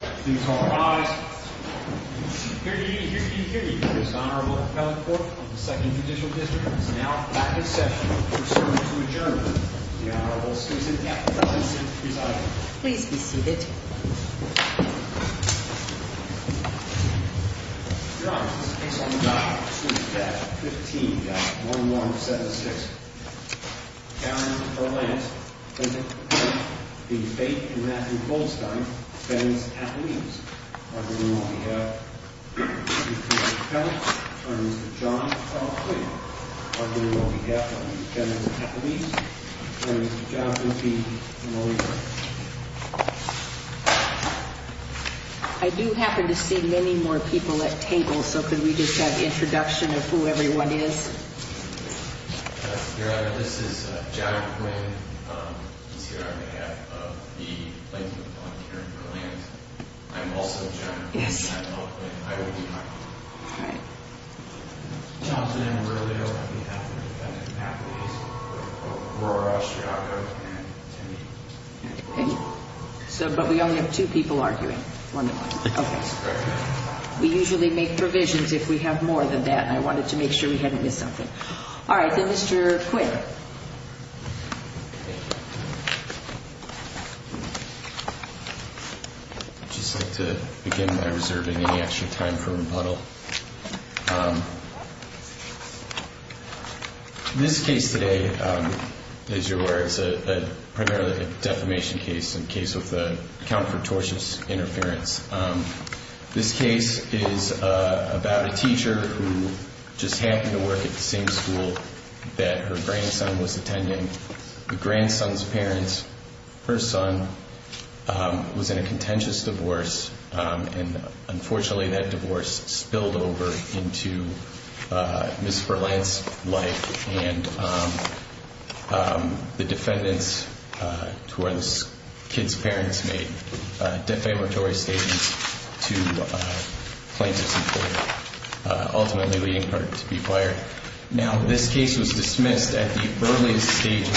Please rise. Here to give you his Honorable Appellate Court of the 2nd Judicial District is now back in session. We're now going to adjourn with the Honorable Susan F. Robinson presiding. Please be seated. Your Honor, this case on the docket is Suite F, 15-1176. Karen Berlant v. Faith & Matthew Goldstein, defendants at the knees. On behalf of the defendant's appellate, on behalf of the defendant's appellate, on behalf of the defendant's appellate, on behalf of the defendant's appellate. I do happen to see many more people at table, so could we just have introduction of who everyone is? Your Honor, this is Jack Quinn. He's here on behalf of the plaintiff, Karen Berlant. I'm also a judge. I'm also an attorney. Johnson and Aurelio, on behalf of the defendant's appellate. Aurora Ostriaco and Timmy. But we only have two people arguing. We usually make provisions if we have more than that, and I wanted to make sure we hadn't missed something. All right, then Mr. Quinn. I'd just like to begin by reserving any extra time for rebuttal. This case today, as you're aware, is primarily a defamation case, a case with account for tortious interference. This case is about a teacher who just happened to work at the same school that her grandson was attending. The grandson's parents, her son, was in a contentious divorce, and unfortunately that divorce spilled over into Ms. Berlant's life, and the defendants, who are the kid's parents, made defamatory statements to plaintiff's employer, ultimately leading her to be fired. Now, this case was dismissed at the earliest stage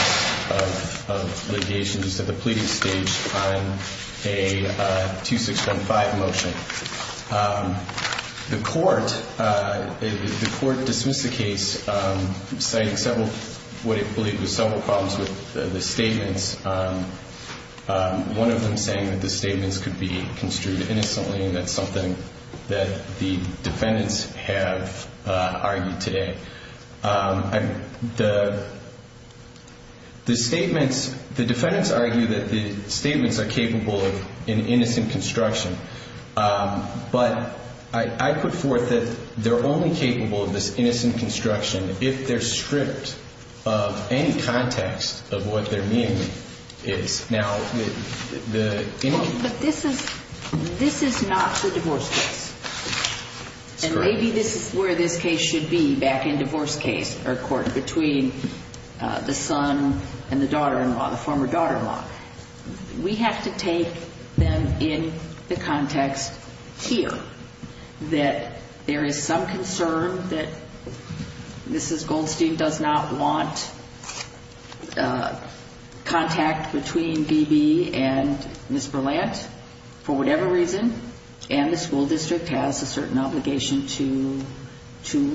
of litigation, just at the pleading stage, on a 2615 motion. The court dismissed the case, citing what it believed was several problems with the statements, one of them saying that the statements could be construed innocently, and that's something that the defendants have argued today. The defendants argue that the statements are capable of an innocent construction, but I put forth that they're only capable of this innocent construction if they're stripped of any context of what their meaning is. But this is not the divorce case. And maybe this is where this case should be, back in divorce case or court, between the son and the daughter-in-law, the former daughter-in-law. We have to take them in the context here, that there is some concern that Mrs. Goldstein does not want contact between B.B. and Ms. Berlant for whatever reason, and the school district has a certain obligation to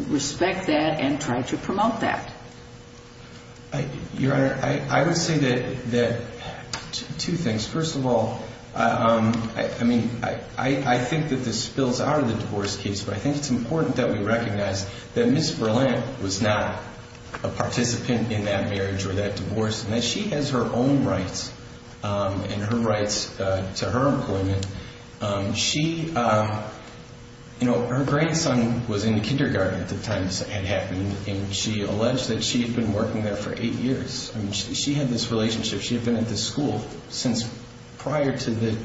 respect that and try to promote that. Your Honor, I would say that two things. First of all, I mean, I think that this spills out of the divorce case, but I think it's important that we recognize that Ms. Berlant was not a participant in that marriage or that divorce, and that she has her own rights and her rights to her employment. She, you know, her grandson was in kindergarten at the time this had happened, and she alleged that she had been working there for eight years. I mean, she had this relationship. She had been at this school since prior to the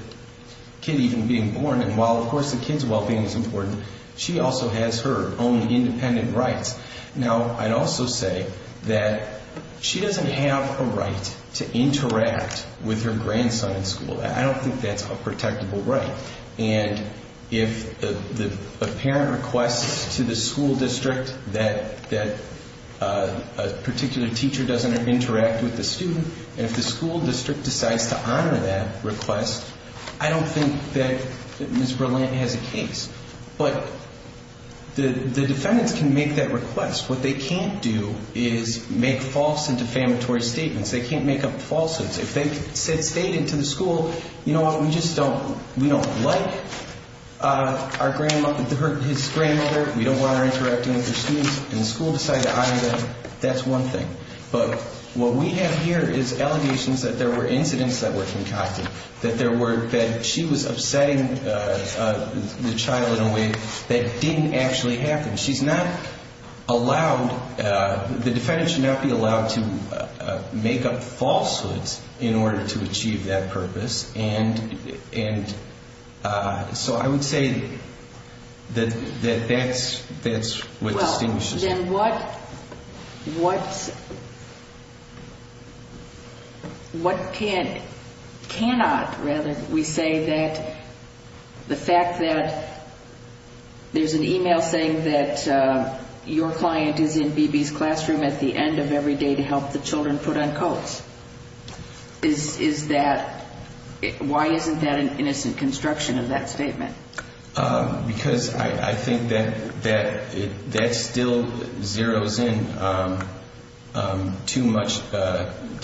kid even being born, and while, of course, the kid's well-being is important, she also has her own independent rights. Now, I'd also say that she doesn't have a right to interact with her grandson in school. I don't think that's a protectable right, and if a parent requests to the school district that a particular teacher doesn't interact with the student, and if the school district decides to honor that request, I don't think that Ms. Berlant has a case. But the defendants can make that request. What they can't do is make false and defamatory statements. They can't make up falsehoods. If they've stated to the school, you know what, we just don't like his grandmother, we don't want her interacting with her students, and the school decided to honor them, that's one thing. But what we have here is allegations that there were incidents that were concocted, that she was upsetting the child in a way that didn't actually happen. She's not allowed, the defendant should not be allowed to make up falsehoods in order to achieve that purpose, and so I would say that that's what distinguishes her. And then what cannot, rather, we say that the fact that there's an e-mail saying that your client is in BB's classroom at the end of every day to help the children put on coats, is that, why isn't that an innocent construction of that statement? Because I think that that still zeroes in too much,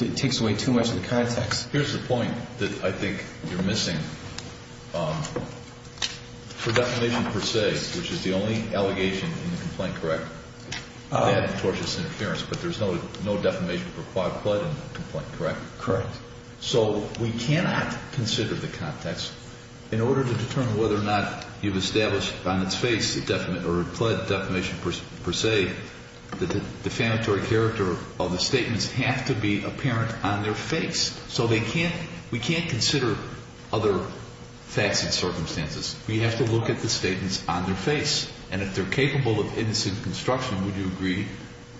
it takes away too much of the context. Here's the point that I think you're missing. For defamation per se, which is the only allegation in the complaint, correct? That tortious interference, but there's no defamation for quad quad in the complaint, correct? Correct. So we cannot consider the context in order to determine whether or not you've established on its face, or pled defamation per se, that the defamatory character of the statements have to be apparent on their face. So they can't, we can't consider other facts and circumstances. We have to look at the statements on their face. And if they're capable of innocent construction, would you agree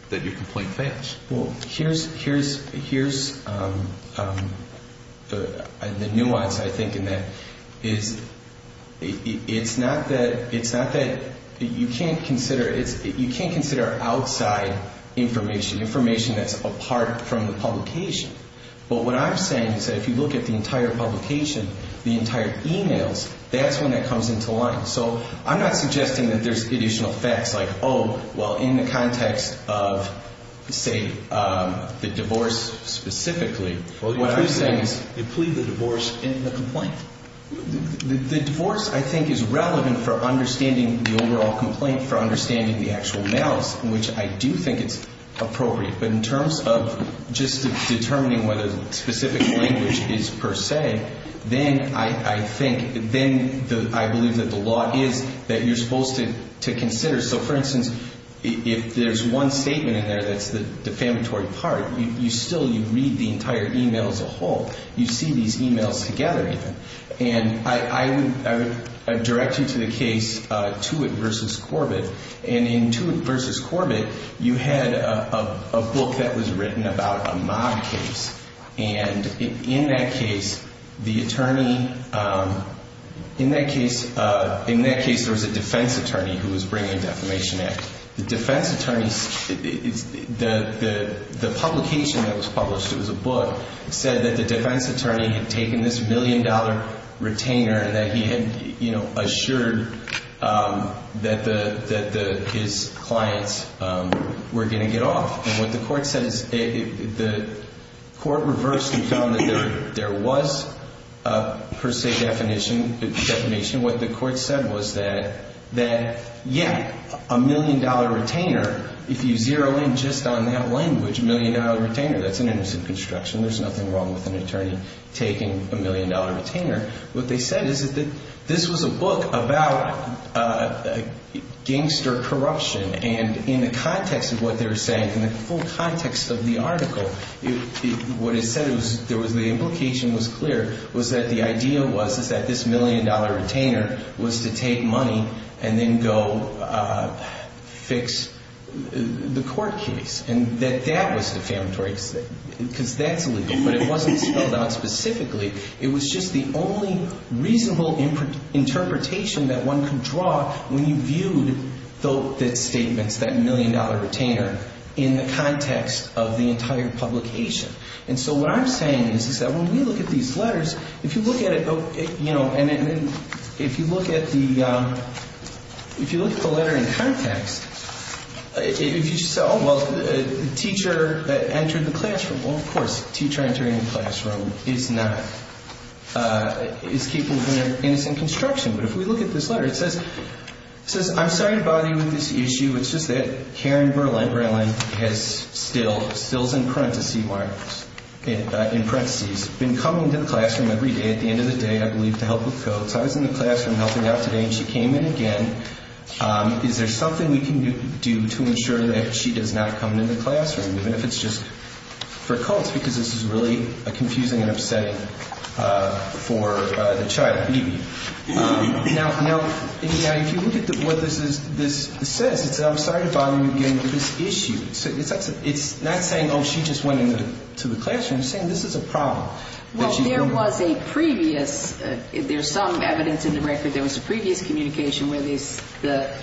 that your complaint fails? Well, here's the nuance, I think, in that. It's not that, you can't consider outside information, information that's apart from the publication. But what I'm saying is that if you look at the entire publication, the entire e-mails, that's when that comes into line. So I'm not suggesting that there's additional facts like, oh, well, in the context of, say, the divorce specifically. What I'm saying is. They plead the divorce in the complaint. The divorce, I think, is relevant for understanding the overall complaint, for understanding the actual emails, which I do think it's appropriate. But in terms of just determining what a specific language is per se, then I think, then I believe that the law is that you're supposed to consider. So, for instance, if there's one statement in there that's the defamatory part, you still, you read the entire e-mail as a whole. You see these e-mails together. And I would direct you to the case Tewitt v. Corbett. And in Tewitt v. Corbett, you had a book that was written about a mob case. And in that case, the attorney, in that case, in that case, there was a defense attorney who was bringing a defamation act. The defense attorney, the publication that was published, it was a book, said that the defense attorney had taken this million-dollar retainer and that he had assured that his clients were going to get off. And what the court said is the court reversed and found that there was per se defamation. What the court said was that, yeah, a million-dollar retainer, if you zero in just on that language, million-dollar retainer, that's an innocent construction. There's nothing wrong with an attorney taking a million-dollar retainer. What they said is that this was a book about gangster corruption. And in the context of what they were saying, in the full context of the article, what it said, the implication was clear, was that the idea was that this million-dollar retainer was to take money and then go fix the court case. And that that was defamatory because that's illegal. But it wasn't spelled out specifically. It was just the only reasonable interpretation that one could draw when you viewed the statements, that million-dollar retainer, in the context of the entire publication. And so what I'm saying is that when we look at these letters, if you look at it, you know, and if you look at the letter in context, if you say, oh, well, the teacher entered the classroom. Well, of course, teacher entering the classroom is not, is keeping their innocent construction. But if we look at this letter, it says, it says, I'm sorry to bother you with this issue. It's just that Karen Berlin has still, stills in parentheses, been coming to the classroom every day, at the end of the day, I believe, to help with codes. I was in the classroom helping out today and she came in again. Is there something we can do to ensure that she does not come into the classroom? Even if it's just for codes, because this is really confusing and upsetting for the child, the baby. Now, if you look at what this says, it says, I'm sorry to bother you again with this issue. It's not saying, oh, she just went into the classroom. It's saying this is a problem. Well, there was a previous, there's some evidence in the record, there was a previous communication where the,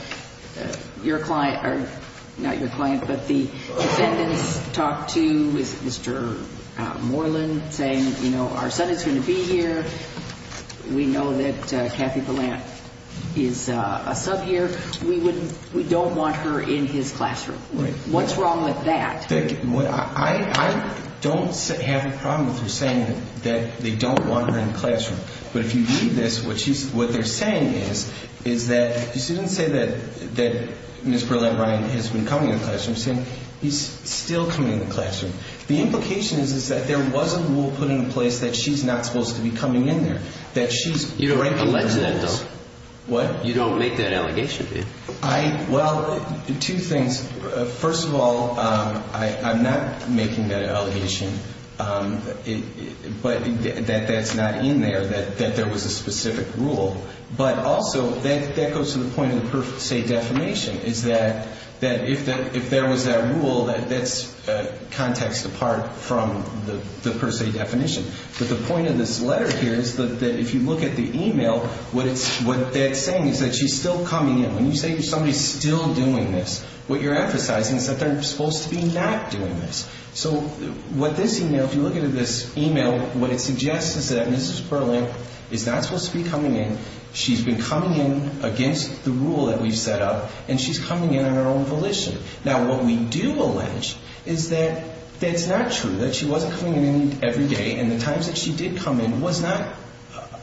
your client, not your client, but the defendants talked to Mr. Moreland saying, you know, our son is going to be here. We know that Kathy Palant is a sub here. We wouldn't, we don't want her in his classroom. What's wrong with that? I don't have a problem with her saying that they don't want her in the classroom. But if you read this, what she's, what they're saying is, is that, she didn't say that Ms. Burlett-Ryan has been coming in the classroom. She's saying he's still coming in the classroom. The implication is that there was a rule put in place that she's not supposed to be coming in there. That she's breaking the rules. You don't make that allegation, do you? I, well, two things. First of all, I'm not making that allegation that that's not in there, that there was a specific rule. But also, that goes to the point of the per se defamation, is that if there was that rule, that's context apart from the per se definition. But the point of this letter here is that if you look at the email, what that's saying is that she's still coming in. When you say somebody's still doing this, what you're emphasizing is that they're supposed to be not doing this. So, what this email, if you look at this email, what it suggests is that Mrs. Burlett is not supposed to be coming in. She's been coming in against the rule that we've set up. And she's coming in on her own volition. Now, what we do allege is that that's not true. That she wasn't coming in every day. And the times that she did come in was not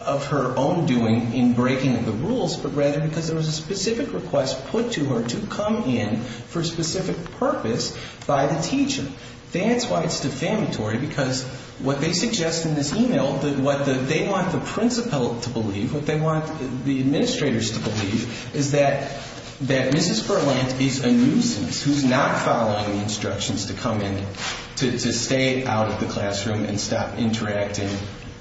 of her own doing in breaking the rules. But rather because there was a specific request put to her to come in for a specific purpose by the teacher. That's why it's defamatory. Because what they suggest in this email, what they want the principal to believe, what they want the administrators to believe, is that Mrs. Burlett is a nuisance who's not following instructions to come in, to stay out of the classroom and stop interacting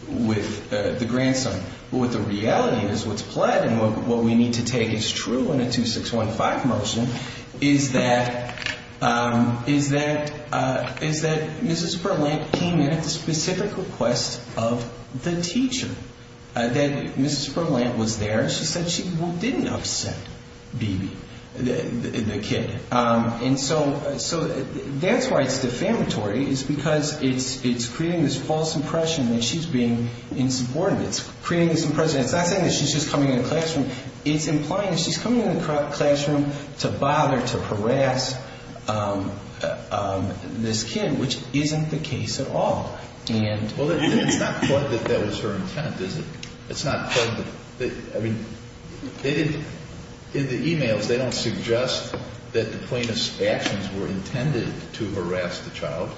with the grandson. But what the reality is, what's plaid and what we need to take as true in a 2615 motion, is that Mrs. Burlett came in at the specific request of the teacher. That Mrs. Burlett was there. She said she didn't upset the kid. And so, that's why it's defamatory. It's because it's creating this false impression that she's being insubordinate. It's creating this impression. It's not saying that she's just coming in the classroom. It's implying that she's coming in the classroom to bother, to harass this kid, which isn't the case at all. And... Well, it's not that that was her intent, is it? It's not that... I mean, they didn't... In the emails, they don't suggest that the plaintiff's actions were intended to harass the child.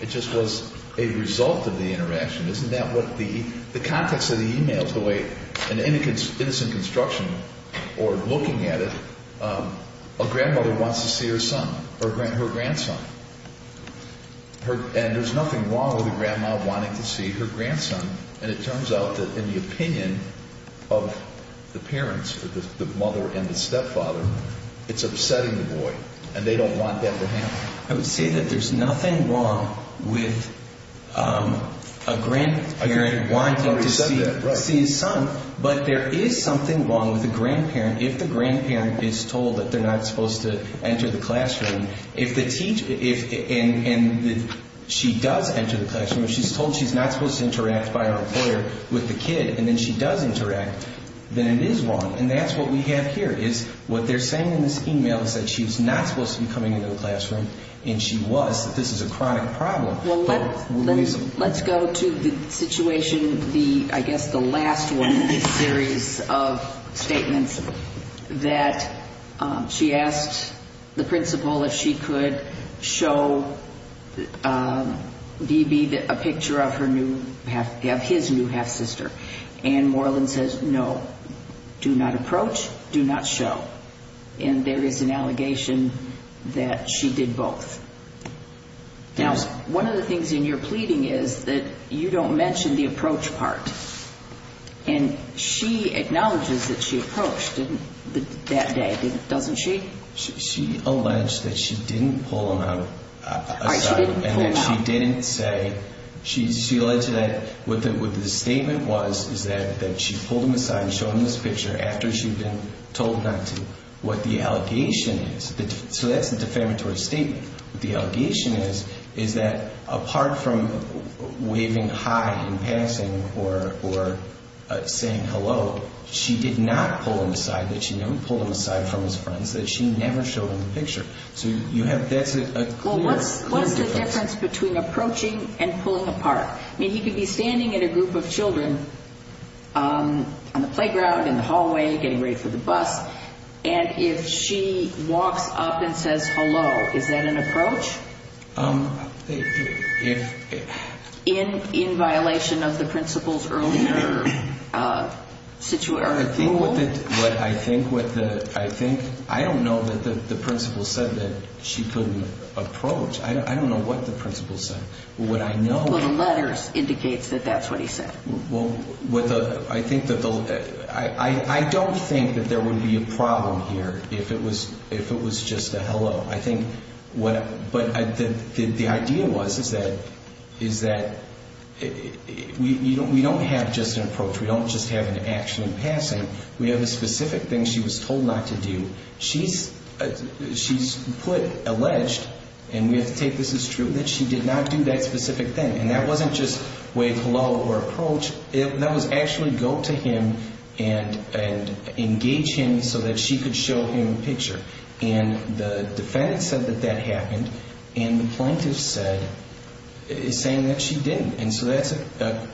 It just was a result of the interaction. Isn't that what the... The context of the emails, the way... An innocent construction, or looking at it, a grandmother wants to see her son, her grandson. And there's nothing wrong with a grandma wanting to see her grandson. And it turns out that in the opinion of the parents, the mother and the stepfather, it's upsetting the boy. And they don't want that to happen. I would say that there's nothing wrong with a grandparent wanting to see his son. But there is something wrong with a grandparent. If the grandparent is told that they're not supposed to enter the classroom, if the teacher... And she does enter the classroom. If she's told she's not supposed to interact by her employer with the kid, and then she does interact, then it is wrong. And that's what we have here, is what they're saying in this email is that she's not supposed to be coming into the classroom, and she was, that this is a chronic problem. Let's go to the situation, I guess the last one in this series of statements, that she asked the principal if she could show B.B. a picture of his new half-sister. And Moreland says, no, do not approach, do not show. And there is an allegation that she did both. Now, one of the things in your pleading is that you don't mention the approach part. And she acknowledges that she approached that day, doesn't she? She alleged that she didn't pull him out. She didn't pull him out. She alleged that what the statement was is that she pulled him aside and showed him this picture after she'd been told not to, what the allegation is. So that's the defamatory statement. What the allegation is, is that apart from waving hi in passing or saying hello, she did not pull him aside, that she never pulled him aside from his friends, that she never showed him the picture. Well, what's the difference between approaching and pulling apart? I mean, he could be standing in a group of children on the playground, in the hallway, getting ready for the bus, and if she walks up and says hello, is that an approach in violation of the principal's earlier rule? I don't know that the principal said that she couldn't approach. I don't know what the principal said. Well, the letters indicates that that's what he said. I don't think that there would be a problem here if it was just a hello. But the idea was is that we don't have just an approach. We don't just have an action in passing. We have a specific thing she was told not to do. She's alleged, and we have to take this as true, that she did not do that specific thing. And that wasn't just wave hello or approach. That was actually go to him and engage him so that she could show him a picture. And the defendant said that that happened, and the plaintiff is saying that she didn't. And so that's a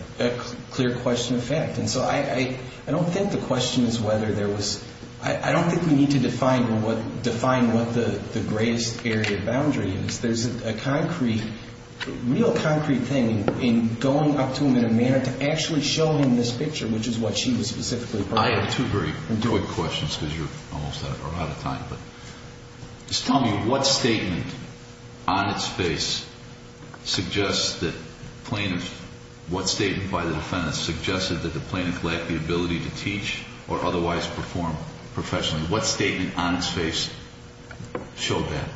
clear question of fact. And so I don't think the question is whether there was – I don't think we need to define what the greatest area of boundary is. There's a concrete, real concrete thing in going up to him in a manner to actually show him this picture, which is what she was specifically – I have two very quick questions because you're almost out of time. Just tell me what statement on its face suggests that plaintiff – what statement by the defendant suggested that the plaintiff lacked the ability to teach or otherwise perform professionally? What statement on its face showed that?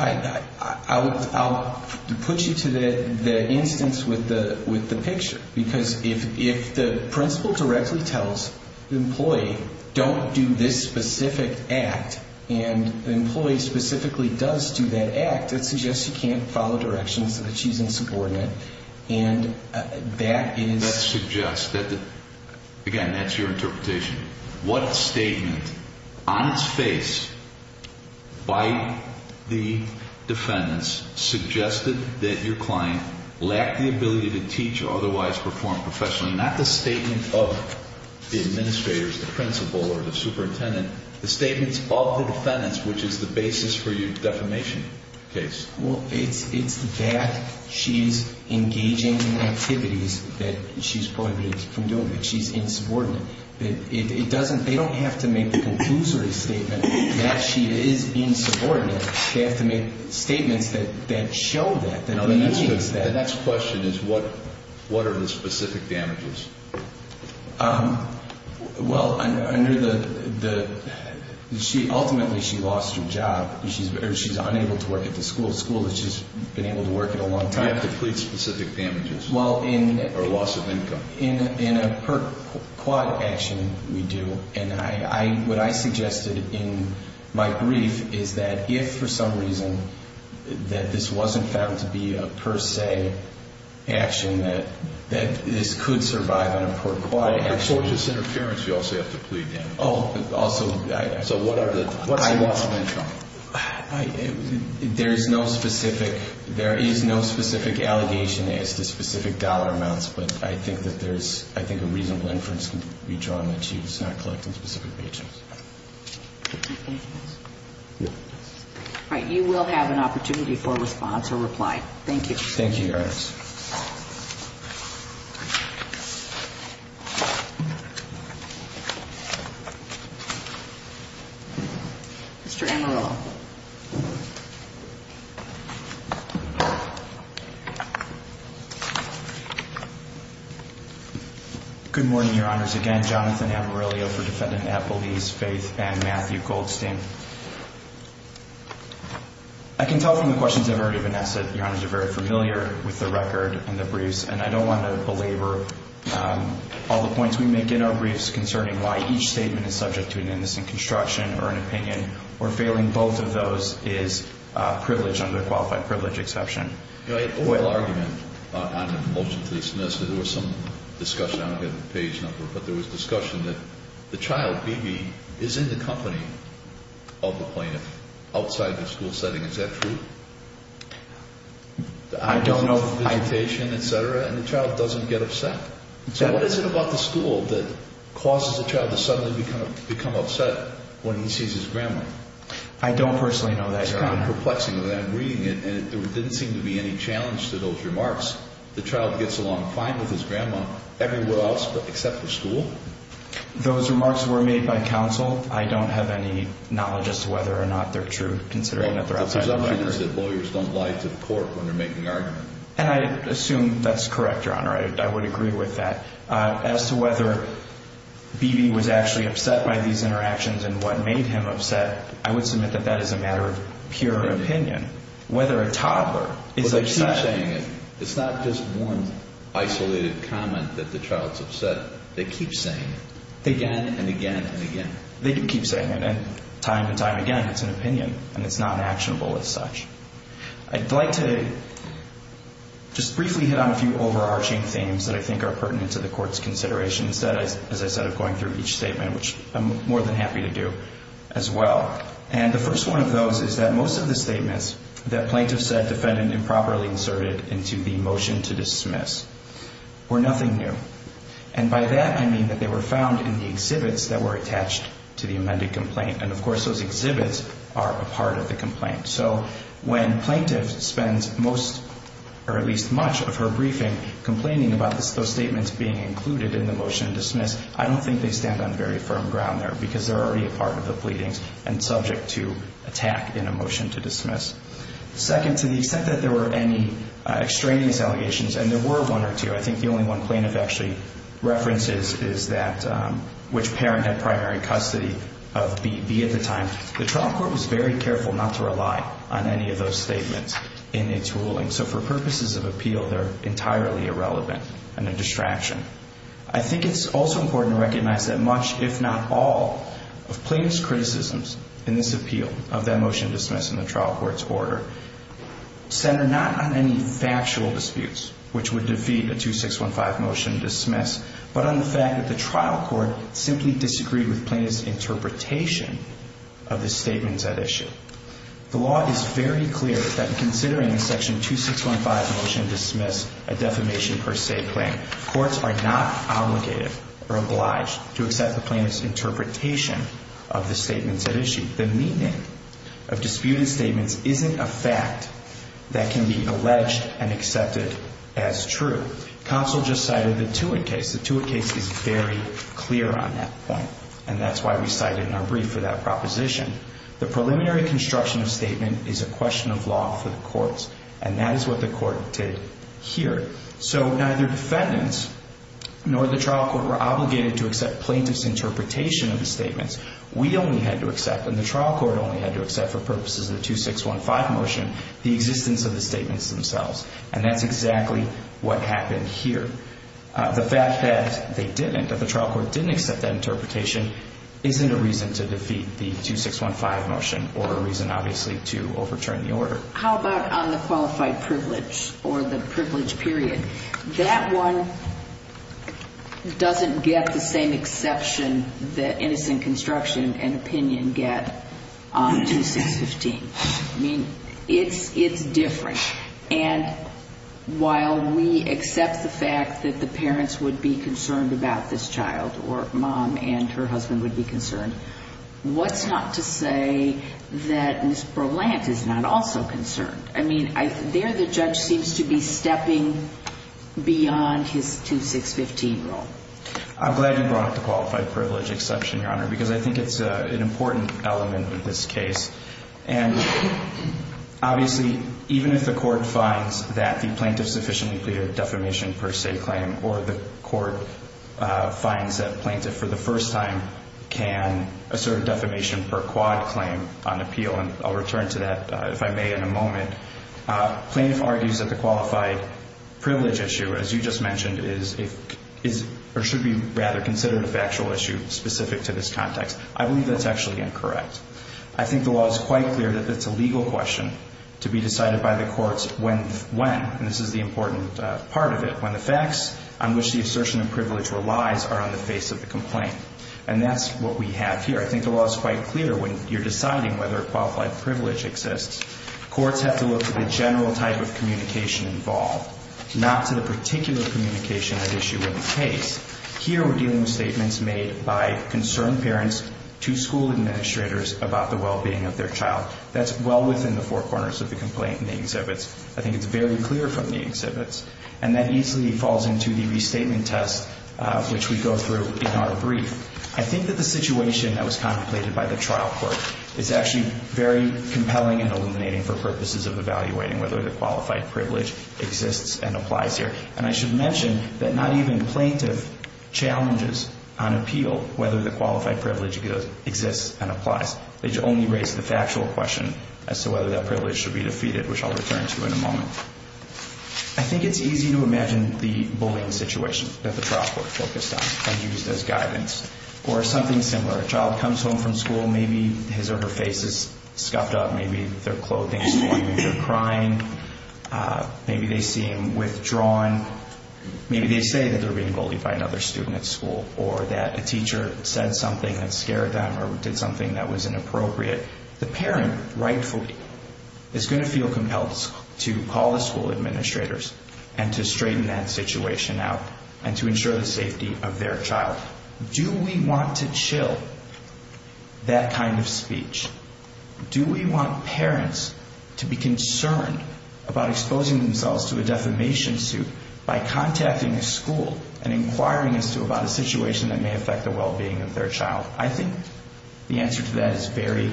I'll put you to the instance with the picture. Because if the principal directly tells the employee, don't do this specific act, and the employee specifically does do that act, that suggests you can't follow directions, that she's insubordinate. And that is – That suggests – again, that's your interpretation. What statement on its face by the defendants suggested that your client lacked the ability to teach or otherwise perform professionally? Not the statement of the administrators, the principal, or the superintendent. The statements of the defendants, which is the basis for your defamation case. Well, it's that she's engaging in activities that she's prohibited from doing, that she's insubordinate. It doesn't – they don't have to make the conclusory statement that she is insubordinate. They have to make statements that show that. The next question is what are the specific damages? Well, under the – ultimately, she lost her job. She's unable to work at the school. The school that she's been able to work at a long time. You have to plead specific damages. Well, in – Or loss of income. In a per-quad action, we do. And I – what I suggested in my brief is that if, for some reason, that this wasn't found to be a per-se action, that this could survive on a per-quad action. Or tortious interference, you also have to plead damages. Oh, also – So what are the – What I lost of income. There is no specific – there is no specific allegation as to specific dollar amounts. But I think that there's – I think a reasonable inference can be drawn that she was not collecting specific wages. All right, you will have an opportunity for response or reply. Thank you. Thank you, Your Honor. Please. Mr. Amarillo. Good morning, Your Honors. Again, Jonathan Amarillo for Defendant Appleby's, Faith, and Matthew Goldstein. I can tell from the questions I've already been asked that, Your Honors, you're very familiar with the record and the briefs. And I don't want to belabor all the points we make in our briefs concerning why each statement is subject to an innocent construction or an opinion, or failing both of those is privilege under qualified privilege exception. You know, I had a little argument on a motion to dismiss. There was some discussion. I don't have the page number. But there was discussion that the child, Bebe, is in the company of the plaintiff outside the school setting. Is that true? I don't know. The identification, et cetera, and the child doesn't get upset. So what is it about the school that causes a child to suddenly become upset when he sees his grandma? I don't personally know that, Your Honor. It's kind of perplexing when I'm reading it. And there didn't seem to be any challenge to those remarks. The child gets along fine with his grandma everywhere else except the school? Those remarks were made by counsel. I don't have any knowledge as to whether or not they're true, considering that they're outside the library. Well, the presumption is that lawyers don't lie to the court when they're making arguments. And I assume that's correct, Your Honor. I would agree with that. As to whether Bebe was actually upset by these interactions and what made him upset, I would submit that that is a matter of pure opinion. Whether a toddler is upset. It's not just one isolated comment that the child's upset. They keep saying it again and again and again. They do keep saying it. And time and time again, it's an opinion. And it's not actionable as such. I'd like to just briefly hit on a few overarching themes that I think are pertinent to the Court's consideration. Instead, as I said, of going through each statement, which I'm more than happy to do as well. And the first one of those is that most of the statements that plaintiff said defendant improperly inserted into the motion to dismiss were nothing new. And by that, I mean that they were found in the exhibits that were attached to the amended complaint. And, of course, those exhibits are a part of the complaint. So when plaintiff spends most or at least much of her briefing complaining about those statements being included in the motion to dismiss, I don't think they stand on very firm ground there because they're already a part of the pleadings and subject to attack in a motion to dismiss. Second, to the extent that there were any extraneous allegations, and there were one or two, I think the only one plaintiff actually references is that which parent had primary custody of B at the time, the trial court was very careful not to rely on any of those statements in its ruling. So for purposes of appeal, they're entirely irrelevant and a distraction. I think it's also important to recognize that much, if not all, of plaintiff's criticisms in this appeal of that motion to dismiss in the trial court's order centered not on any factual disputes, which would defeat a 2615 motion to dismiss, but on the fact that the trial court simply disagreed with plaintiff's interpretation of the statements at issue. The law is very clear that considering a section 2615 motion to dismiss a defamation per se claim, courts are not obligated or obliged to accept the plaintiff's interpretation of the statements at issue. The meaning of disputed statements isn't a fact that can be alleged and accepted as true. Counsel just cited the Tewitt case. The Tewitt case is very clear on that point, and that's why we cite it in our brief for that proposition. The preliminary construction of statement is a question of law for the courts, and that is what the court did here. So neither defendants nor the trial court were obligated to accept plaintiff's interpretation of the statements. We only had to accept, and the trial court only had to accept for purposes of the 2615 motion, the existence of the statements themselves. And that's exactly what happened here. The fact that they didn't, that the trial court didn't accept that interpretation, isn't a reason to defeat the 2615 motion or a reason, obviously, to overturn the order. So how about on the qualified privilege or the privilege period? That one doesn't get the same exception that innocent construction and opinion get on 2615. I mean, it's different. And while we accept the fact that the parents would be concerned about this child or mom and her husband would be concerned, what's not to say that Ms. Berlant is not also concerned? I mean, there the judge seems to be stepping beyond his 2615 rule. I'm glad you brought up the qualified privilege exception, Your Honor, because I think it's an important element of this case. And obviously, even if the court finds that the plaintiff sufficiently pleaded defamation per se claim or the court finds that plaintiff for the first time can assert defamation per quad claim on appeal, and I'll return to that, if I may, in a moment, plaintiff argues that the qualified privilege issue, as you just mentioned, is or should be rather considered a factual issue specific to this context. I believe that's actually incorrect. I think the law is quite clear that it's a legal question to be decided by the courts when, and this is the important part of it, when the facts on which the assertion of privilege relies are on the face of the complaint. And that's what we have here. I think the law is quite clear when you're deciding whether a qualified privilege exists. Courts have to look at the general type of communication involved, not to the particular communication at issue in the case. Here we're dealing with statements made by concerned parents to school administrators about the well-being of their child. That's well within the four corners of the complaint in the exhibits. I think it's very clear from the exhibits. And that easily falls into the restatement test, which we go through in our brief. I think that the situation that was contemplated by the trial court is actually very compelling and illuminating for purposes of evaluating whether the qualified privilege exists and applies here. And I should mention that not even plaintiff challenges on appeal whether the qualified privilege exists and applies. They only raise the factual question as to whether that privilege should be defeated, which I'll return to in a moment. I think it's easy to imagine the bullying situation that the trial court focused on and used as guidance. Or something similar. A child comes home from school. Maybe his or her face is scuffed up. Maybe their clothing is torn. Maybe they're crying. Maybe they seem withdrawn. Maybe they say that they're being bullied by another student at school. Or that a teacher said something that scared them or did something that was inappropriate. The parent, rightfully, is going to feel compelled to call the school administrators and to straighten that situation out and to ensure the safety of their child. Do we want to chill that kind of speech? Do we want parents to be concerned about exposing themselves to a defamation suit by contacting a school and inquiring as to about a situation that may affect the well-being of their child? I think the answer to that is very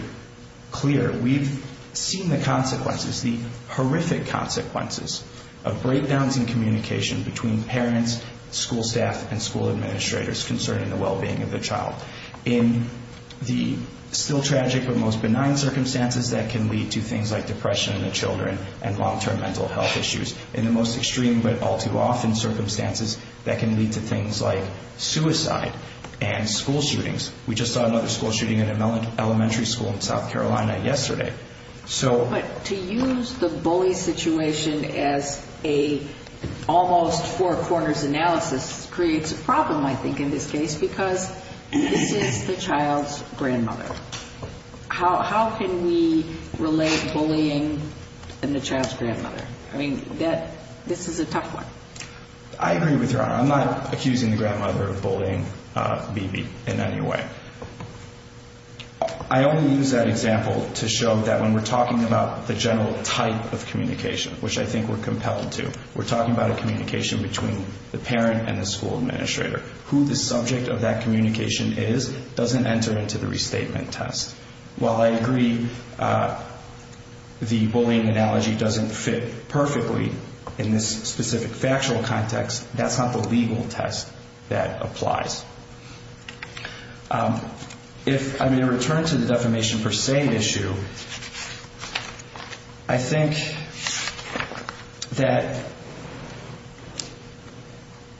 clear. We've seen the consequences, the horrific consequences of breakdowns in communication between parents, school staff, and school administrators concerning the well-being of their child. In the still tragic but most benign circumstances, that can lead to things like depression in the children and long-term mental health issues. In the most extreme but all-too-often circumstances, that can lead to things like suicide and school shootings. We just saw another school shooting in an elementary school in South Carolina yesterday. But to use the bully situation as an almost four-corners analysis creates a problem, I think, in this case, because this is the child's grandmother. How can we relate bullying and the child's grandmother? I mean, this is a tough one. I agree with you, Your Honor. I'm not accusing the grandmother of bullying Bibi in any way. I only use that example to show that when we're talking about the general type of communication, which I think we're compelled to, we're talking about a communication between the parent and the school administrator, who the subject of that communication is doesn't enter into the restatement test. While I agree the bullying analogy doesn't fit perfectly in this specific factual context, that's not the legal test that applies. If I may return to the defamation per se issue, I think that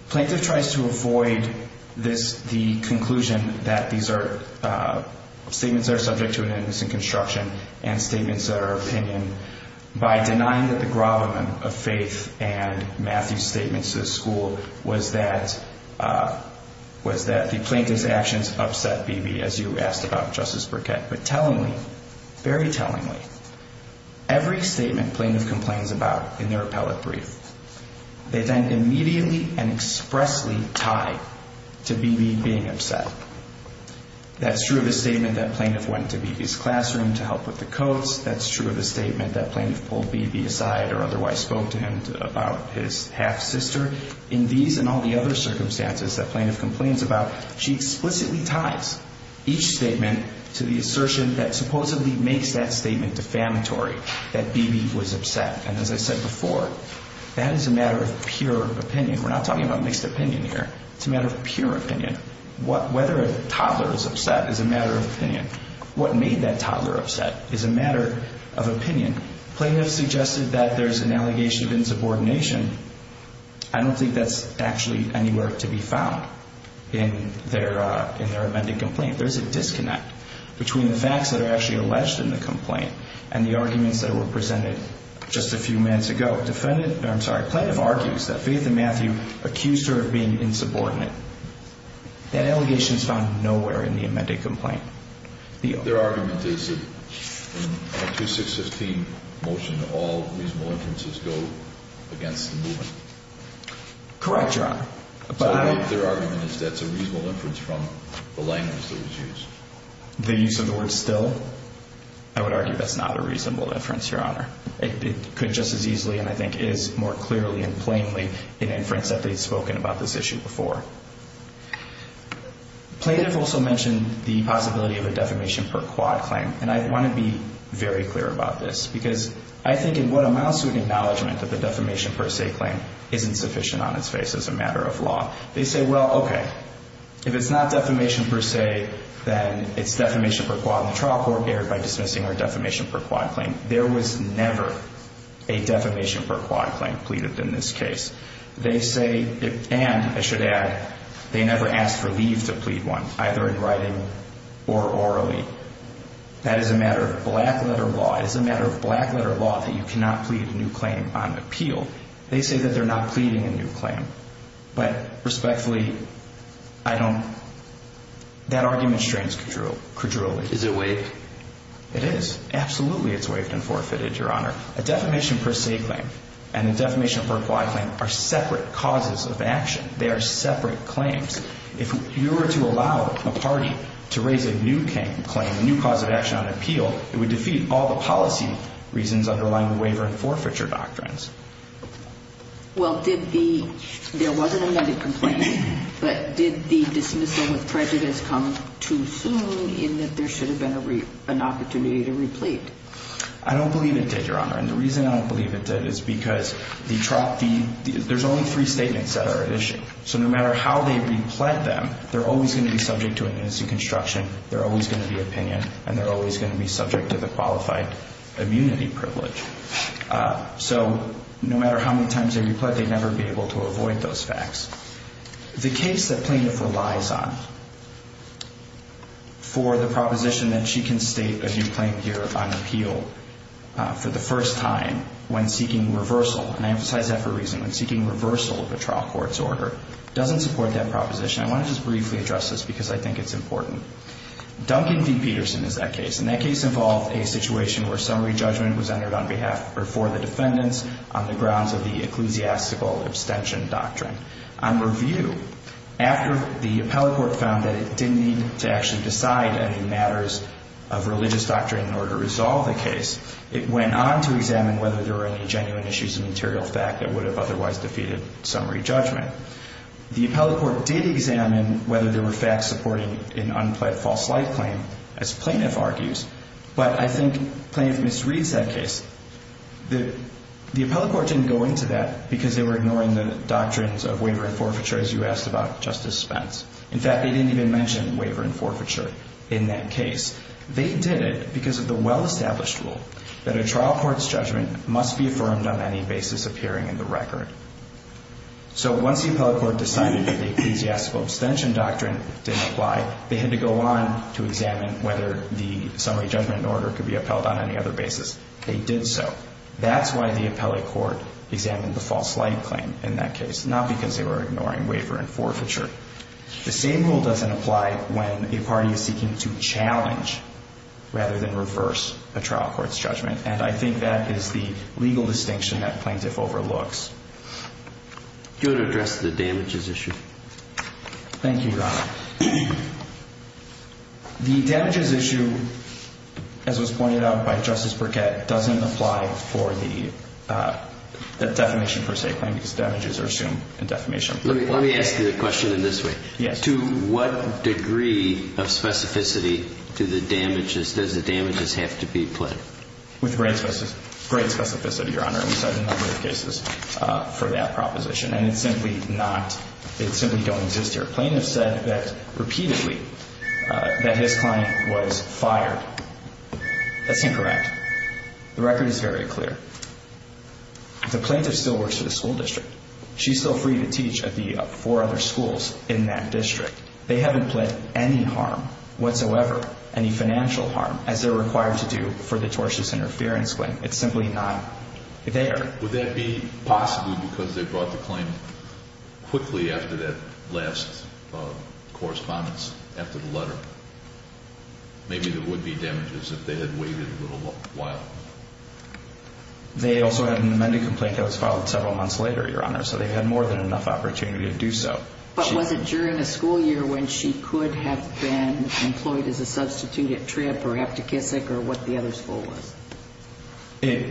Plaintiff tries to avoid the conclusion that these are statements that are subject to an innocent construction and statements that are opinion by denying that the gravamen of Faith and Matthew's statements to the school was that the plaintiff's actions upset Bibi, as you asked about, Justice Burkett. But tellingly, very tellingly, every statement Plaintiff complains about in their appellate brief, they then immediately and expressly tie to Bibi being upset. That's true of the statement that Plaintiff went to Bibi's classroom to help with the coats. That's true of the statement that Plaintiff pulled Bibi aside or otherwise spoke to him about his half-sister. However, in these and all the other circumstances that Plaintiff complains about, she explicitly ties each statement to the assertion that supposedly makes that statement defamatory, that Bibi was upset. And as I said before, that is a matter of pure opinion. We're not talking about mixed opinion here. It's a matter of pure opinion. Whether a toddler is upset is a matter of opinion. What made that toddler upset is a matter of opinion. Plaintiff suggested that there's an allegation of insubordination. I don't think that's actually anywhere to be found in their amended complaint. There's a disconnect between the facts that are actually alleged in the complaint and the arguments that were presented just a few minutes ago. Plaintiff argues that Faith and Matthew accused her of being insubordinate. That allegation is found nowhere in the amended complaint. Their argument is that in a 2615 motion, all reasonable inferences go against the movement. Correct, Your Honor. Their argument is that's a reasonable inference from the language that was used. The use of the word still, I would argue that's not a reasonable inference, Your Honor. It could just as easily and I think is more clearly and plainly an inference that they've spoken about this issue before. Plaintiff also mentioned the possibility of a defamation per quad claim, and I want to be very clear about this because I think in what amounts to an acknowledgement that the defamation per se claim isn't sufficient on its face as a matter of law. They say, well, okay, if it's not defamation per se, then it's defamation per quad in the trial court erred by dismissing her defamation per quad claim. There was never a defamation per quad claim pleaded in this case. They say, and I should add, they never asked for leave to plead one, either in writing or orally. That is a matter of black-letter law. It is a matter of black-letter law that you cannot plead a new claim on appeal. They say that they're not pleading a new claim, but respectfully, I don't, that argument strains credulity. Is it waived? It is. Absolutely, it's waived and forfeited, Your Honor. A defamation per se claim and a defamation per quad claim are separate causes of action. They are separate claims. If you were to allow a party to raise a new claim, a new cause of action on appeal, it would defeat all the policy reasons underlying the waiver and forfeiture doctrines. Well, did the – there was an amended complaint, but did the dismissal with prejudice come too soon in that there should have been an opportunity to replete? I don't believe it did, Your Honor, and the reason I don't believe it did is because the – there's only three statements that are at issue. So no matter how they replete them, they're always going to be subject to amnesty construction, they're always going to be opinion, and they're always going to be subject to the qualified immunity privilege. So no matter how many times they replete, they'd never be able to avoid those facts. The case that plaintiff relies on for the proposition that she can state a new claim here on appeal for the first time when seeking reversal, and I emphasize that for a reason, when seeking reversal of a trial court's order, doesn't support that proposition. I want to just briefly address this because I think it's important. Duncan v. Peterson is that case, and that case involved a situation where summary judgment was entered on behalf – or for the defendants on the grounds of the ecclesiastical abstention doctrine. On review, after the appellate court found that it didn't need to actually decide any matters of religious doctrine in order to resolve the case, it went on to examine whether there were any genuine issues of material fact that would have otherwise defeated summary judgment. The appellate court did examine whether there were facts supporting an unpled false light claim, as plaintiff argues, but I think plaintiff misreads that case. The appellate court didn't go into that because they were ignoring the doctrines of waiver and forfeiture, as you asked about, Justice Spence. In fact, they didn't even mention waiver and forfeiture in that case. They did it because of the well-established rule that a trial court's judgment must be affirmed on any basis appearing in the record. So once the appellate court decided that the ecclesiastical abstention doctrine didn't apply, they had to go on to examine whether the summary judgment in order could be upheld on any other basis. They did so. That's why the appellate court examined the false light claim in that case, not because they were ignoring waiver and forfeiture. The same rule doesn't apply when a party is seeking to challenge rather than reverse a trial court's judgment, and I think that is the legal distinction that plaintiff overlooks. Go to address the damages issue. Thank you, Your Honor. The damages issue, as was pointed out by Justice Burkett, doesn't apply for the defamation per se claim because damages are assumed in defamation. Let me ask you a question in this way. Yes. To what degree of specificity does the damages have to be pled? With great specificity, Your Honor. We've certainly cited a number of cases for that proposition, and it simply don't exist here. Plaintiff said that repeatedly that his client was fired. That's incorrect. The record is very clear. The plaintiff still works for the school district. She's still free to teach at the four other schools in that district. They haven't pled any harm whatsoever, any financial harm, as they're required to do for the tortious interference claim. It's simply not there. Would that be possible because they brought the claim quickly after that last correspondence, after the letter? Maybe there would be damages if they had waited a little while. They also had an amended complaint that was filed several months later, Your Honor, so they had more than enough opportunity to do so. But was it during the school year when she could have been employed as a substitute or what the other school was?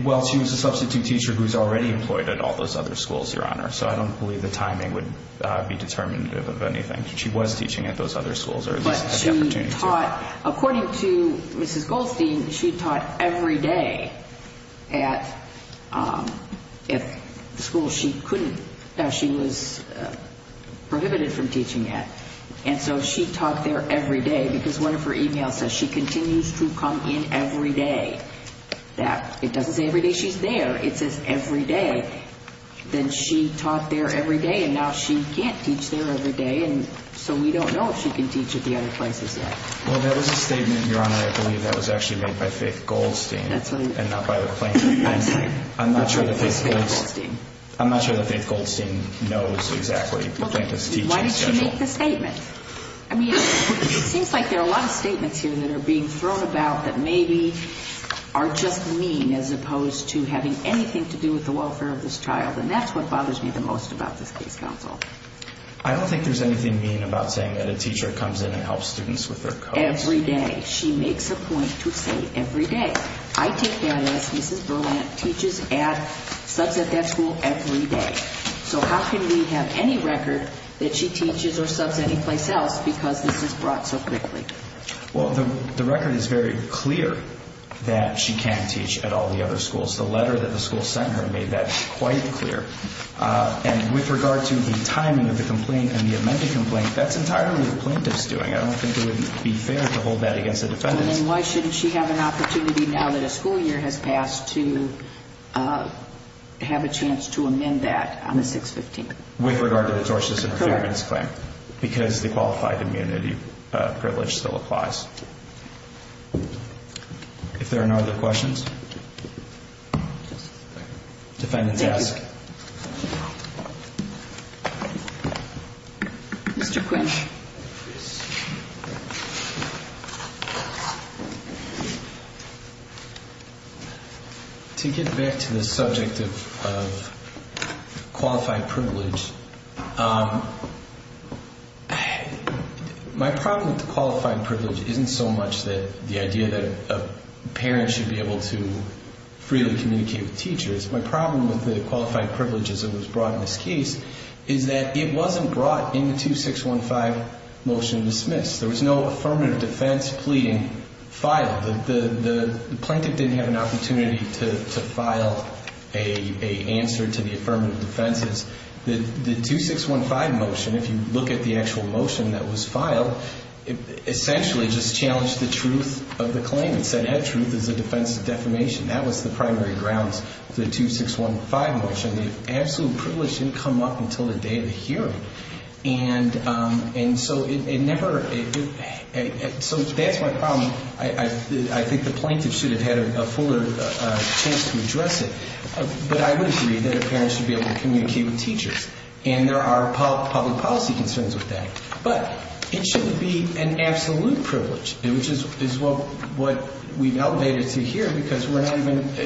Well, she was a substitute teacher who was already employed at all those other schools, Your Honor, so I don't believe the timing would be determinative of anything. She was teaching at those other schools or at least had the opportunity to. But she taught, according to Mrs. Goldstein, she taught every day at the school she couldn't, that she was prohibited from teaching at. And so she taught there every day because one of her e-mails says she continues to come in every day. It doesn't say every day she's there. It says every day. Then she taught there every day, and now she can't teach there every day, and so we don't know if she can teach at the other places yet. Well, that was a statement, Your Honor, I believe that was actually made by Faith Goldstein and not by the plaintiff. I'm not sure that Faith Goldstein knows exactly the plaintiff's teaching schedule. She didn't make the statement. I mean, it seems like there are a lot of statements here that are being thrown about that maybe are just mean as opposed to having anything to do with the welfare of this child, and that's what bothers me the most about this case, counsel. I don't think there's anything mean about saying that a teacher comes in and helps students with their code. Every day. She makes a point to say every day. I take that as Mrs. Berlant teaches at, studs at that school every day. So how can we have any record that she teaches or subs any place else because this is brought so quickly? Well, the record is very clear that she can't teach at all the other schools. The letter that the school sent her made that quite clear. And with regard to the timing of the complaint and the amended complaint, that's entirely what the plaintiff's doing. I don't think it would be fair to hold that against the defendants. Then why shouldn't she have an opportunity now that a school year has passed to have a chance to amend that on the 6-15? With regard to the tortious interference claim. Correct. Because the qualified immunity privilege still applies. If there are no other questions, defendants ask. Mr. Quinch. To get back to the subject of qualified privilege. My problem with the qualified privilege isn't so much the idea that a parent should be able to freely communicate with teachers. My problem with the qualified privilege as it was brought in this case is that it wasn't brought in the 2-6-1-5 motion dismissed. There was no affirmative defense pleading filed. The plaintiff didn't have an opportunity to file an answer to the affirmative defenses. The 2-6-1-5 motion, if you look at the actual motion that was filed, essentially just challenged the truth of the claim. It said that truth is a defense of defamation. That was the primary grounds for the 2-6-1-5 motion. The absolute privilege didn't come up until the day of the hearing. So that's my problem. I think the plaintiff should have had a fuller chance to address it. But I would agree that a parent should be able to communicate with teachers. And there are public policy concerns with that. But it shouldn't be an absolute privilege, which is what we've elevated to here because we're not even –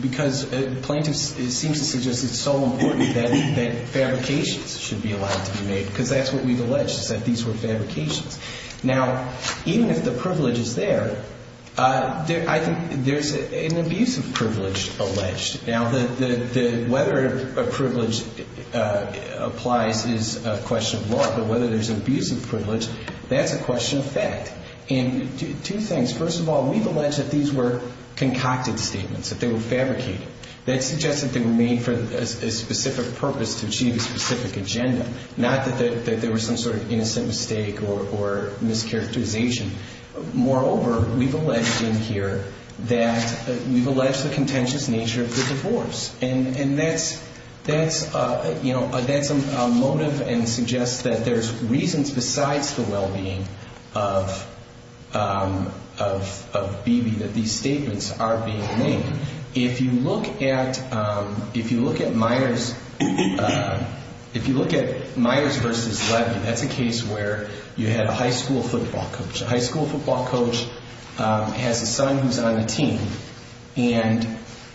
because the plaintiff seems to suggest it's so important that fabrications should be allowed to be made, because that's what we've alleged is that these were fabrications. Now, even if the privilege is there, I think there's an abusive privilege alleged. Now, whether a privilege applies is a question of law. But whether there's an abusive privilege, that's a question of fact. And two things. First of all, we've alleged that these were concocted statements, that they were fabricated. That suggests that they were made for a specific purpose to achieve a specific agenda, not that there was some sort of innocent mistake or mischaracterization. Moreover, we've alleged in here that we've alleged the contentious nature of the divorce. And that's a motive and suggests that there's reasons besides the well-being of Bebe that these statements are being made. If you look at Myers versus Levin, that's a case where you had a high school football coach, a high school football coach has a son who's on the team. And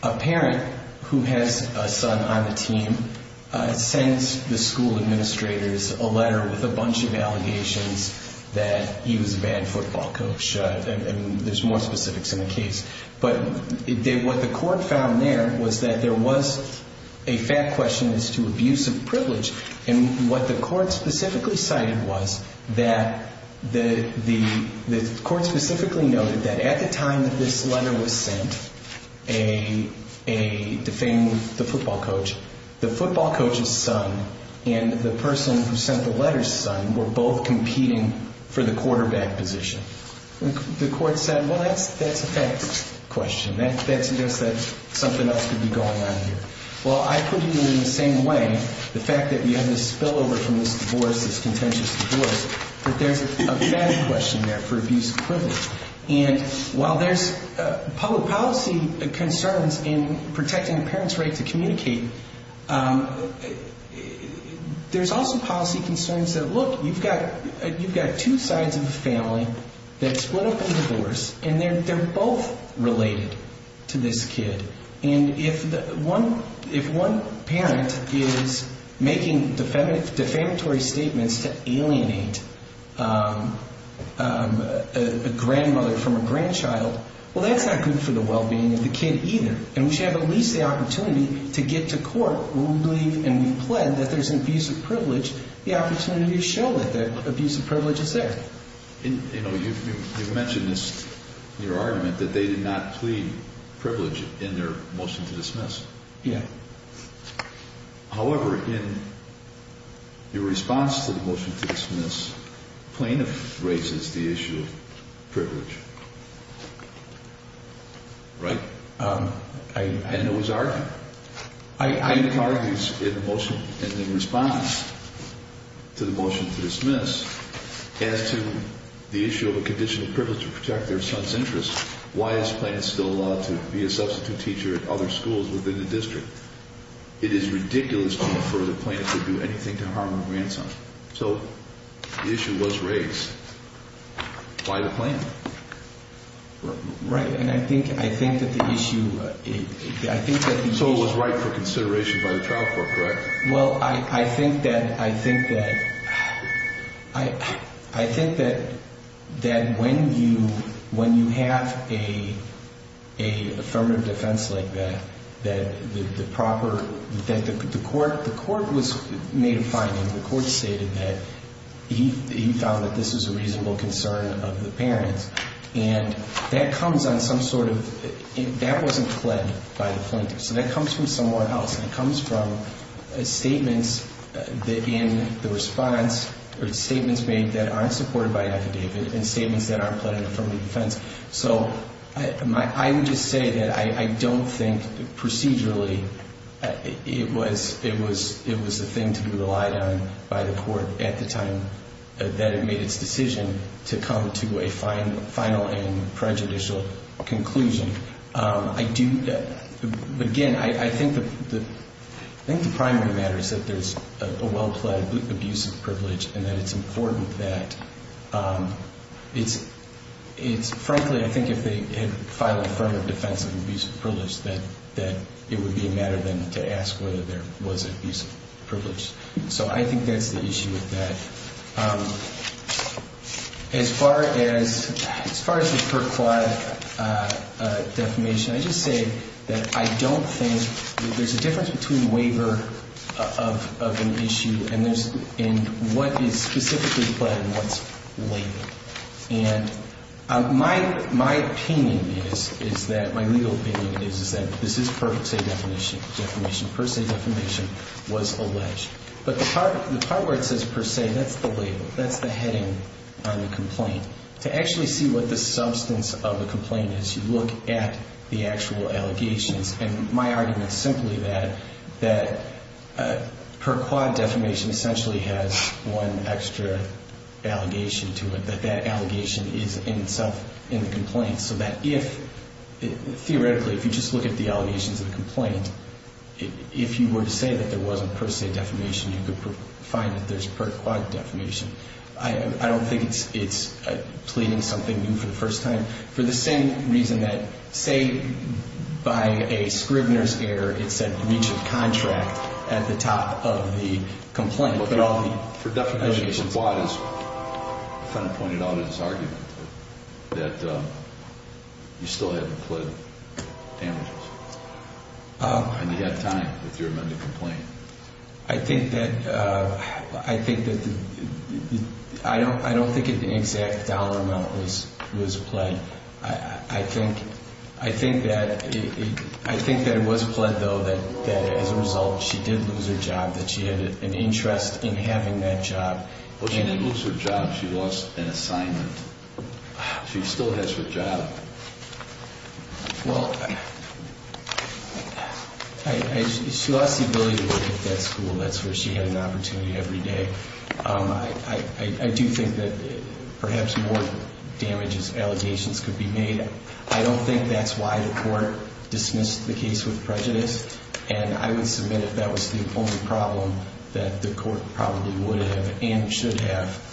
a parent who has a son on the team sends the school administrators a letter with a bunch of allegations that he was a bad football coach. And there's more specifics in the case. But what the court found there was that there was a fact question as to abusive privilege. And what the court specifically cited was that the court specifically noted that at the time that this letter was sent defaming the football coach, the football coach's son and the person who sent the letter's son were both competing for the quarterback position. The court said, well, that's a fact question. That suggests that something else could be going on here. Well, I put it in the same way, the fact that we have this spillover from this divorce, this contentious divorce, that there's a fact question there for abusive privilege. And while there's public policy concerns in protecting a parent's right to communicate, there's also policy concerns that, look, you've got two sides of the family that split up in the divorce, and they're both related to this kid. And if one parent is making defamatory statements to alienate a grandmother from a grandchild, well, that's not good for the well-being of the kid either. And we should have at least the opportunity to get to court when we believe and we plead that there's an abusive privilege, the opportunity to show that that abusive privilege is there. You know, you've mentioned this in your argument that they did not plead privilege in their motion to dismiss. Yeah. However, in your response to the motion to dismiss, plaintiff raises the issue of privilege. Right? And it was argued. It was argued in the motion and in response to the motion to dismiss as to the issue of a condition of privilege to protect their son's interests. Why is the plaintiff still allowed to be a substitute teacher at other schools within the district? It is ridiculous to refer the plaintiff to do anything to harm her grandson. So the issue was raised. Why the plaintiff? Right. And I think that the issue, I think that the issue. So it was right for consideration by the child court, correct? Well, I think that, I think that, I think that when you have a affirmative defense like that, that the proper, that the court was made a finding, the court stated that he found that this is a reasonable concern of the parents. And that comes on some sort of, that wasn't pled by the plaintiff. So that comes from someone else. And it comes from statements in the response or statements made that aren't supported by affidavit and statements that aren't pled in affirmative defense. So I would just say that I don't think procedurally it was the thing to be relied on by the court at the time that it made its decision to come to a final and prejudicial conclusion. I do, again, I think the primary matter is that there's a well-pled abusive privilege and that it's important that it's, frankly, I think if they had filed affirmative defense of abusive privilege, that it would be a matter then to ask whether there was an abusive privilege. So I think that's the issue with that. As far as the per quod defamation, I just say that I don't think there's a difference between waiver of an issue and there's, and what is specifically pled and what's labeled. And my opinion is, is that, my legal opinion is, is that this is per se defamation. Per se defamation was alleged. But the part where it says per se, that's the label. That's the heading on the complaint. To actually see what the substance of the complaint is, you look at the actual allegations. And my argument is simply that per quod defamation essentially has one extra allegation to it, that that allegation is in itself in the complaint. So that if, theoretically, if you just look at the allegations of the complaint, if you were to say that there wasn't per se defamation, you could find that there's per quod defamation. I don't think it's pleading something new for the first time. For the same reason that, say, by a Scribner's error, it said breach of contract at the top of the complaint. For definition of what, as the defendant pointed out in his argument, that you still hadn't pled damages. And you had time with your amendment to complain. I think that, I don't think an exact dollar amount was pled. I think that it was pled, though, that as a result she did lose her job, that she had an interest in having that job. Well, she didn't lose her job. She lost an assignment. She still has her job. Well, she lost the ability to get that school. That's where she had an opportunity every day. I do think that perhaps more damages, allegations could be made. I don't think that's why the court dismissed the case with prejudice. And I would submit that that was the only problem that the court probably would have and should have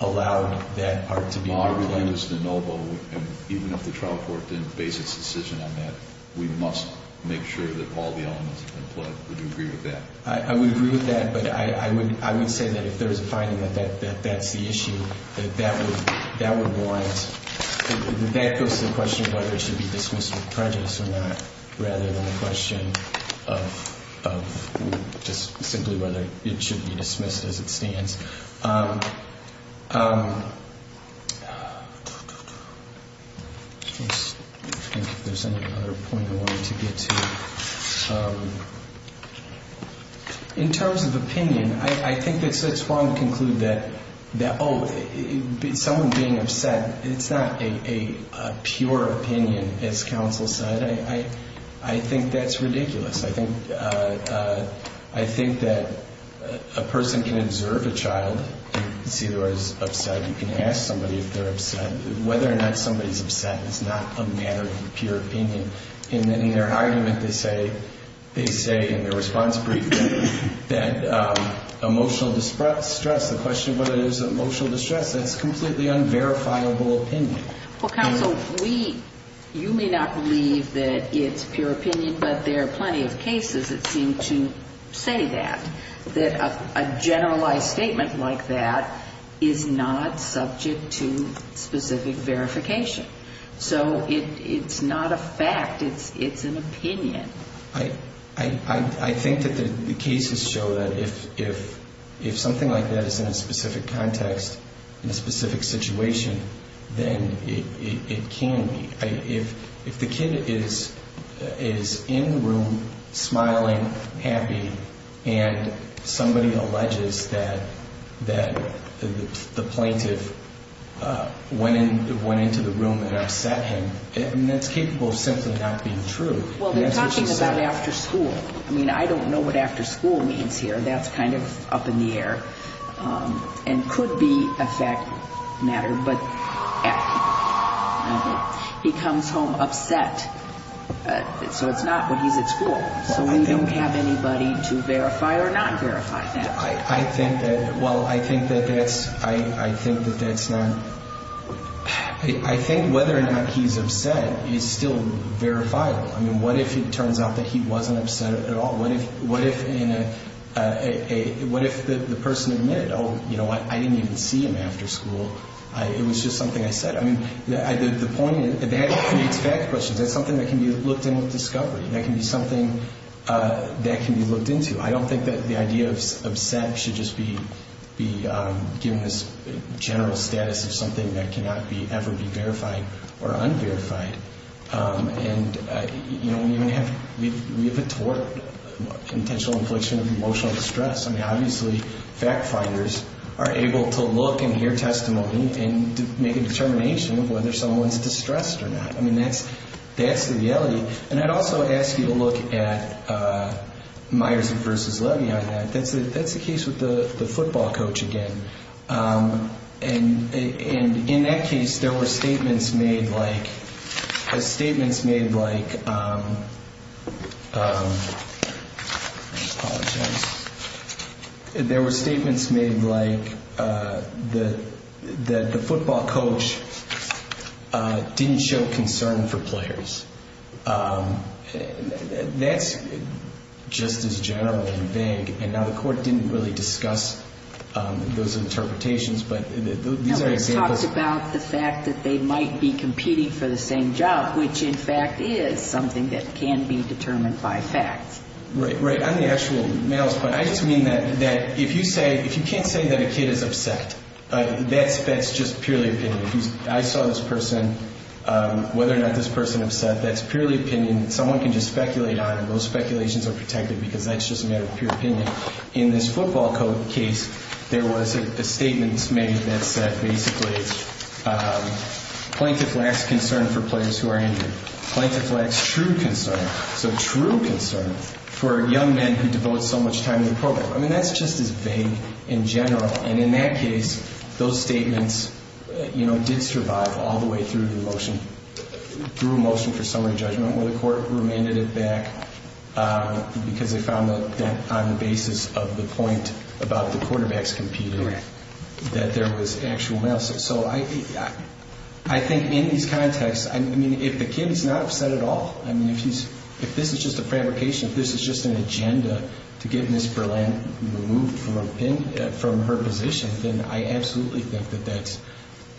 allowed that part to be implied. Maher relinquished the NOVO, and even if the trial court didn't base its decision on that, we must make sure that all the elements have been pled. Would you agree with that? I would agree with that. But I would say that if there's a finding that that's the issue, that that would want to go to the question of whether it should be dismissed with prejudice or not, rather than a question of just simply whether it should be dismissed as it stands. In terms of opinion, I think it's wrong to conclude that, oh, someone being upset, it's not a pure opinion, as counsel said. I think that's ridiculous. I think that a person can observe a child and see that they're upset. You can ask somebody if they're upset. Whether or not somebody's upset is not a matter of pure opinion. And in their argument, they say in their response brief that emotional distress, the question of whether it is emotional distress, that's completely unverifiable opinion. Well, counsel, you may not believe that it's pure opinion, but there are plenty of cases that seem to say that, that a generalized statement like that is not subject to specific verification. So it's not a fact. It's an opinion. I think that the cases show that if something like that is in a specific context, in a specific situation, then it can be. If the kid is in the room smiling, happy, and somebody alleges that the plaintiff went into the room and upset him, that's capable of simply not being true. Well, they're talking about after school. I mean, I don't know what after school means here. That's kind of up in the air and could be a fact matter. But he comes home upset. So it's not when he's at school. So we don't have anybody to verify or not verify that. I think that, well, I think that that's, I think that that's not, I think whether or not he's upset is still verifiable. I mean, what if it turns out that he wasn't upset at all? What if the person admitted, oh, you know what, I didn't even see him after school. It was just something I said. I mean, the point is that creates fact questions. That's something that can be looked in with discovery. That can be something that can be looked into. I don't think that the idea of upset should just be given this general status of something that cannot ever be verified or unverified. And, you know, we have a tort, intentional infliction of emotional distress. I mean, obviously fact finders are able to look and hear testimony and make a determination of whether someone's distressed or not. I mean, that's the reality. And I'd also ask you to look at Myers v. Levy on that. That's the case with the football coach again. And in that case, there were statements made like the football coach didn't show concern for players. That's just as general and vague. And now the court didn't really discuss those interpretations, but these are examples. No, it talks about the fact that they might be competing for the same job, which, in fact, is something that can be determined by fact. Right, right. On the actual males' point, I just mean that if you say, if you can't say that a kid is upset, that's just purely opinion. I saw this person, whether or not this person upset, that's purely opinion. And someone can just speculate on it. Those speculations are protected because that's just a matter of pure opinion. In this football coach case, there was a statement made that said basically, plaintiff lacks concern for players who are injured. Plaintiff lacks true concern. So true concern for young men who devote so much time to the program. I mean, that's just as vague in general. And in that case, those statements did survive all the way through the motion, through a motion for summary judgment where the court remanded it back because they found that on the basis of the point about the quarterbacks competing, that there was actual males. So I think in these contexts, I mean, if the kid is not upset at all, I mean, if this is just a fabrication, if this is just an agenda to get Miss Berlin removed from her position, then I absolutely think that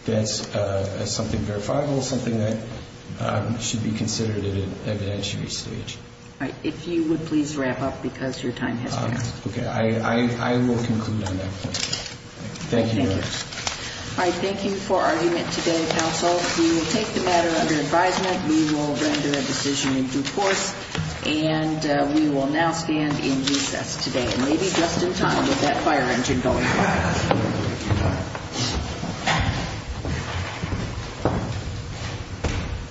that's something verifiable, something that should be considered at an evidentiary stage. All right. If you would please wrap up because your time has passed. Okay. I will conclude on that point. Thank you. Thank you. All right. Thank you for argument today, counsel. We will take the matter under advisement. We will render a decision in due course. And we will now stand in recess today. And maybe just in time with that fire engine going off. Thank you.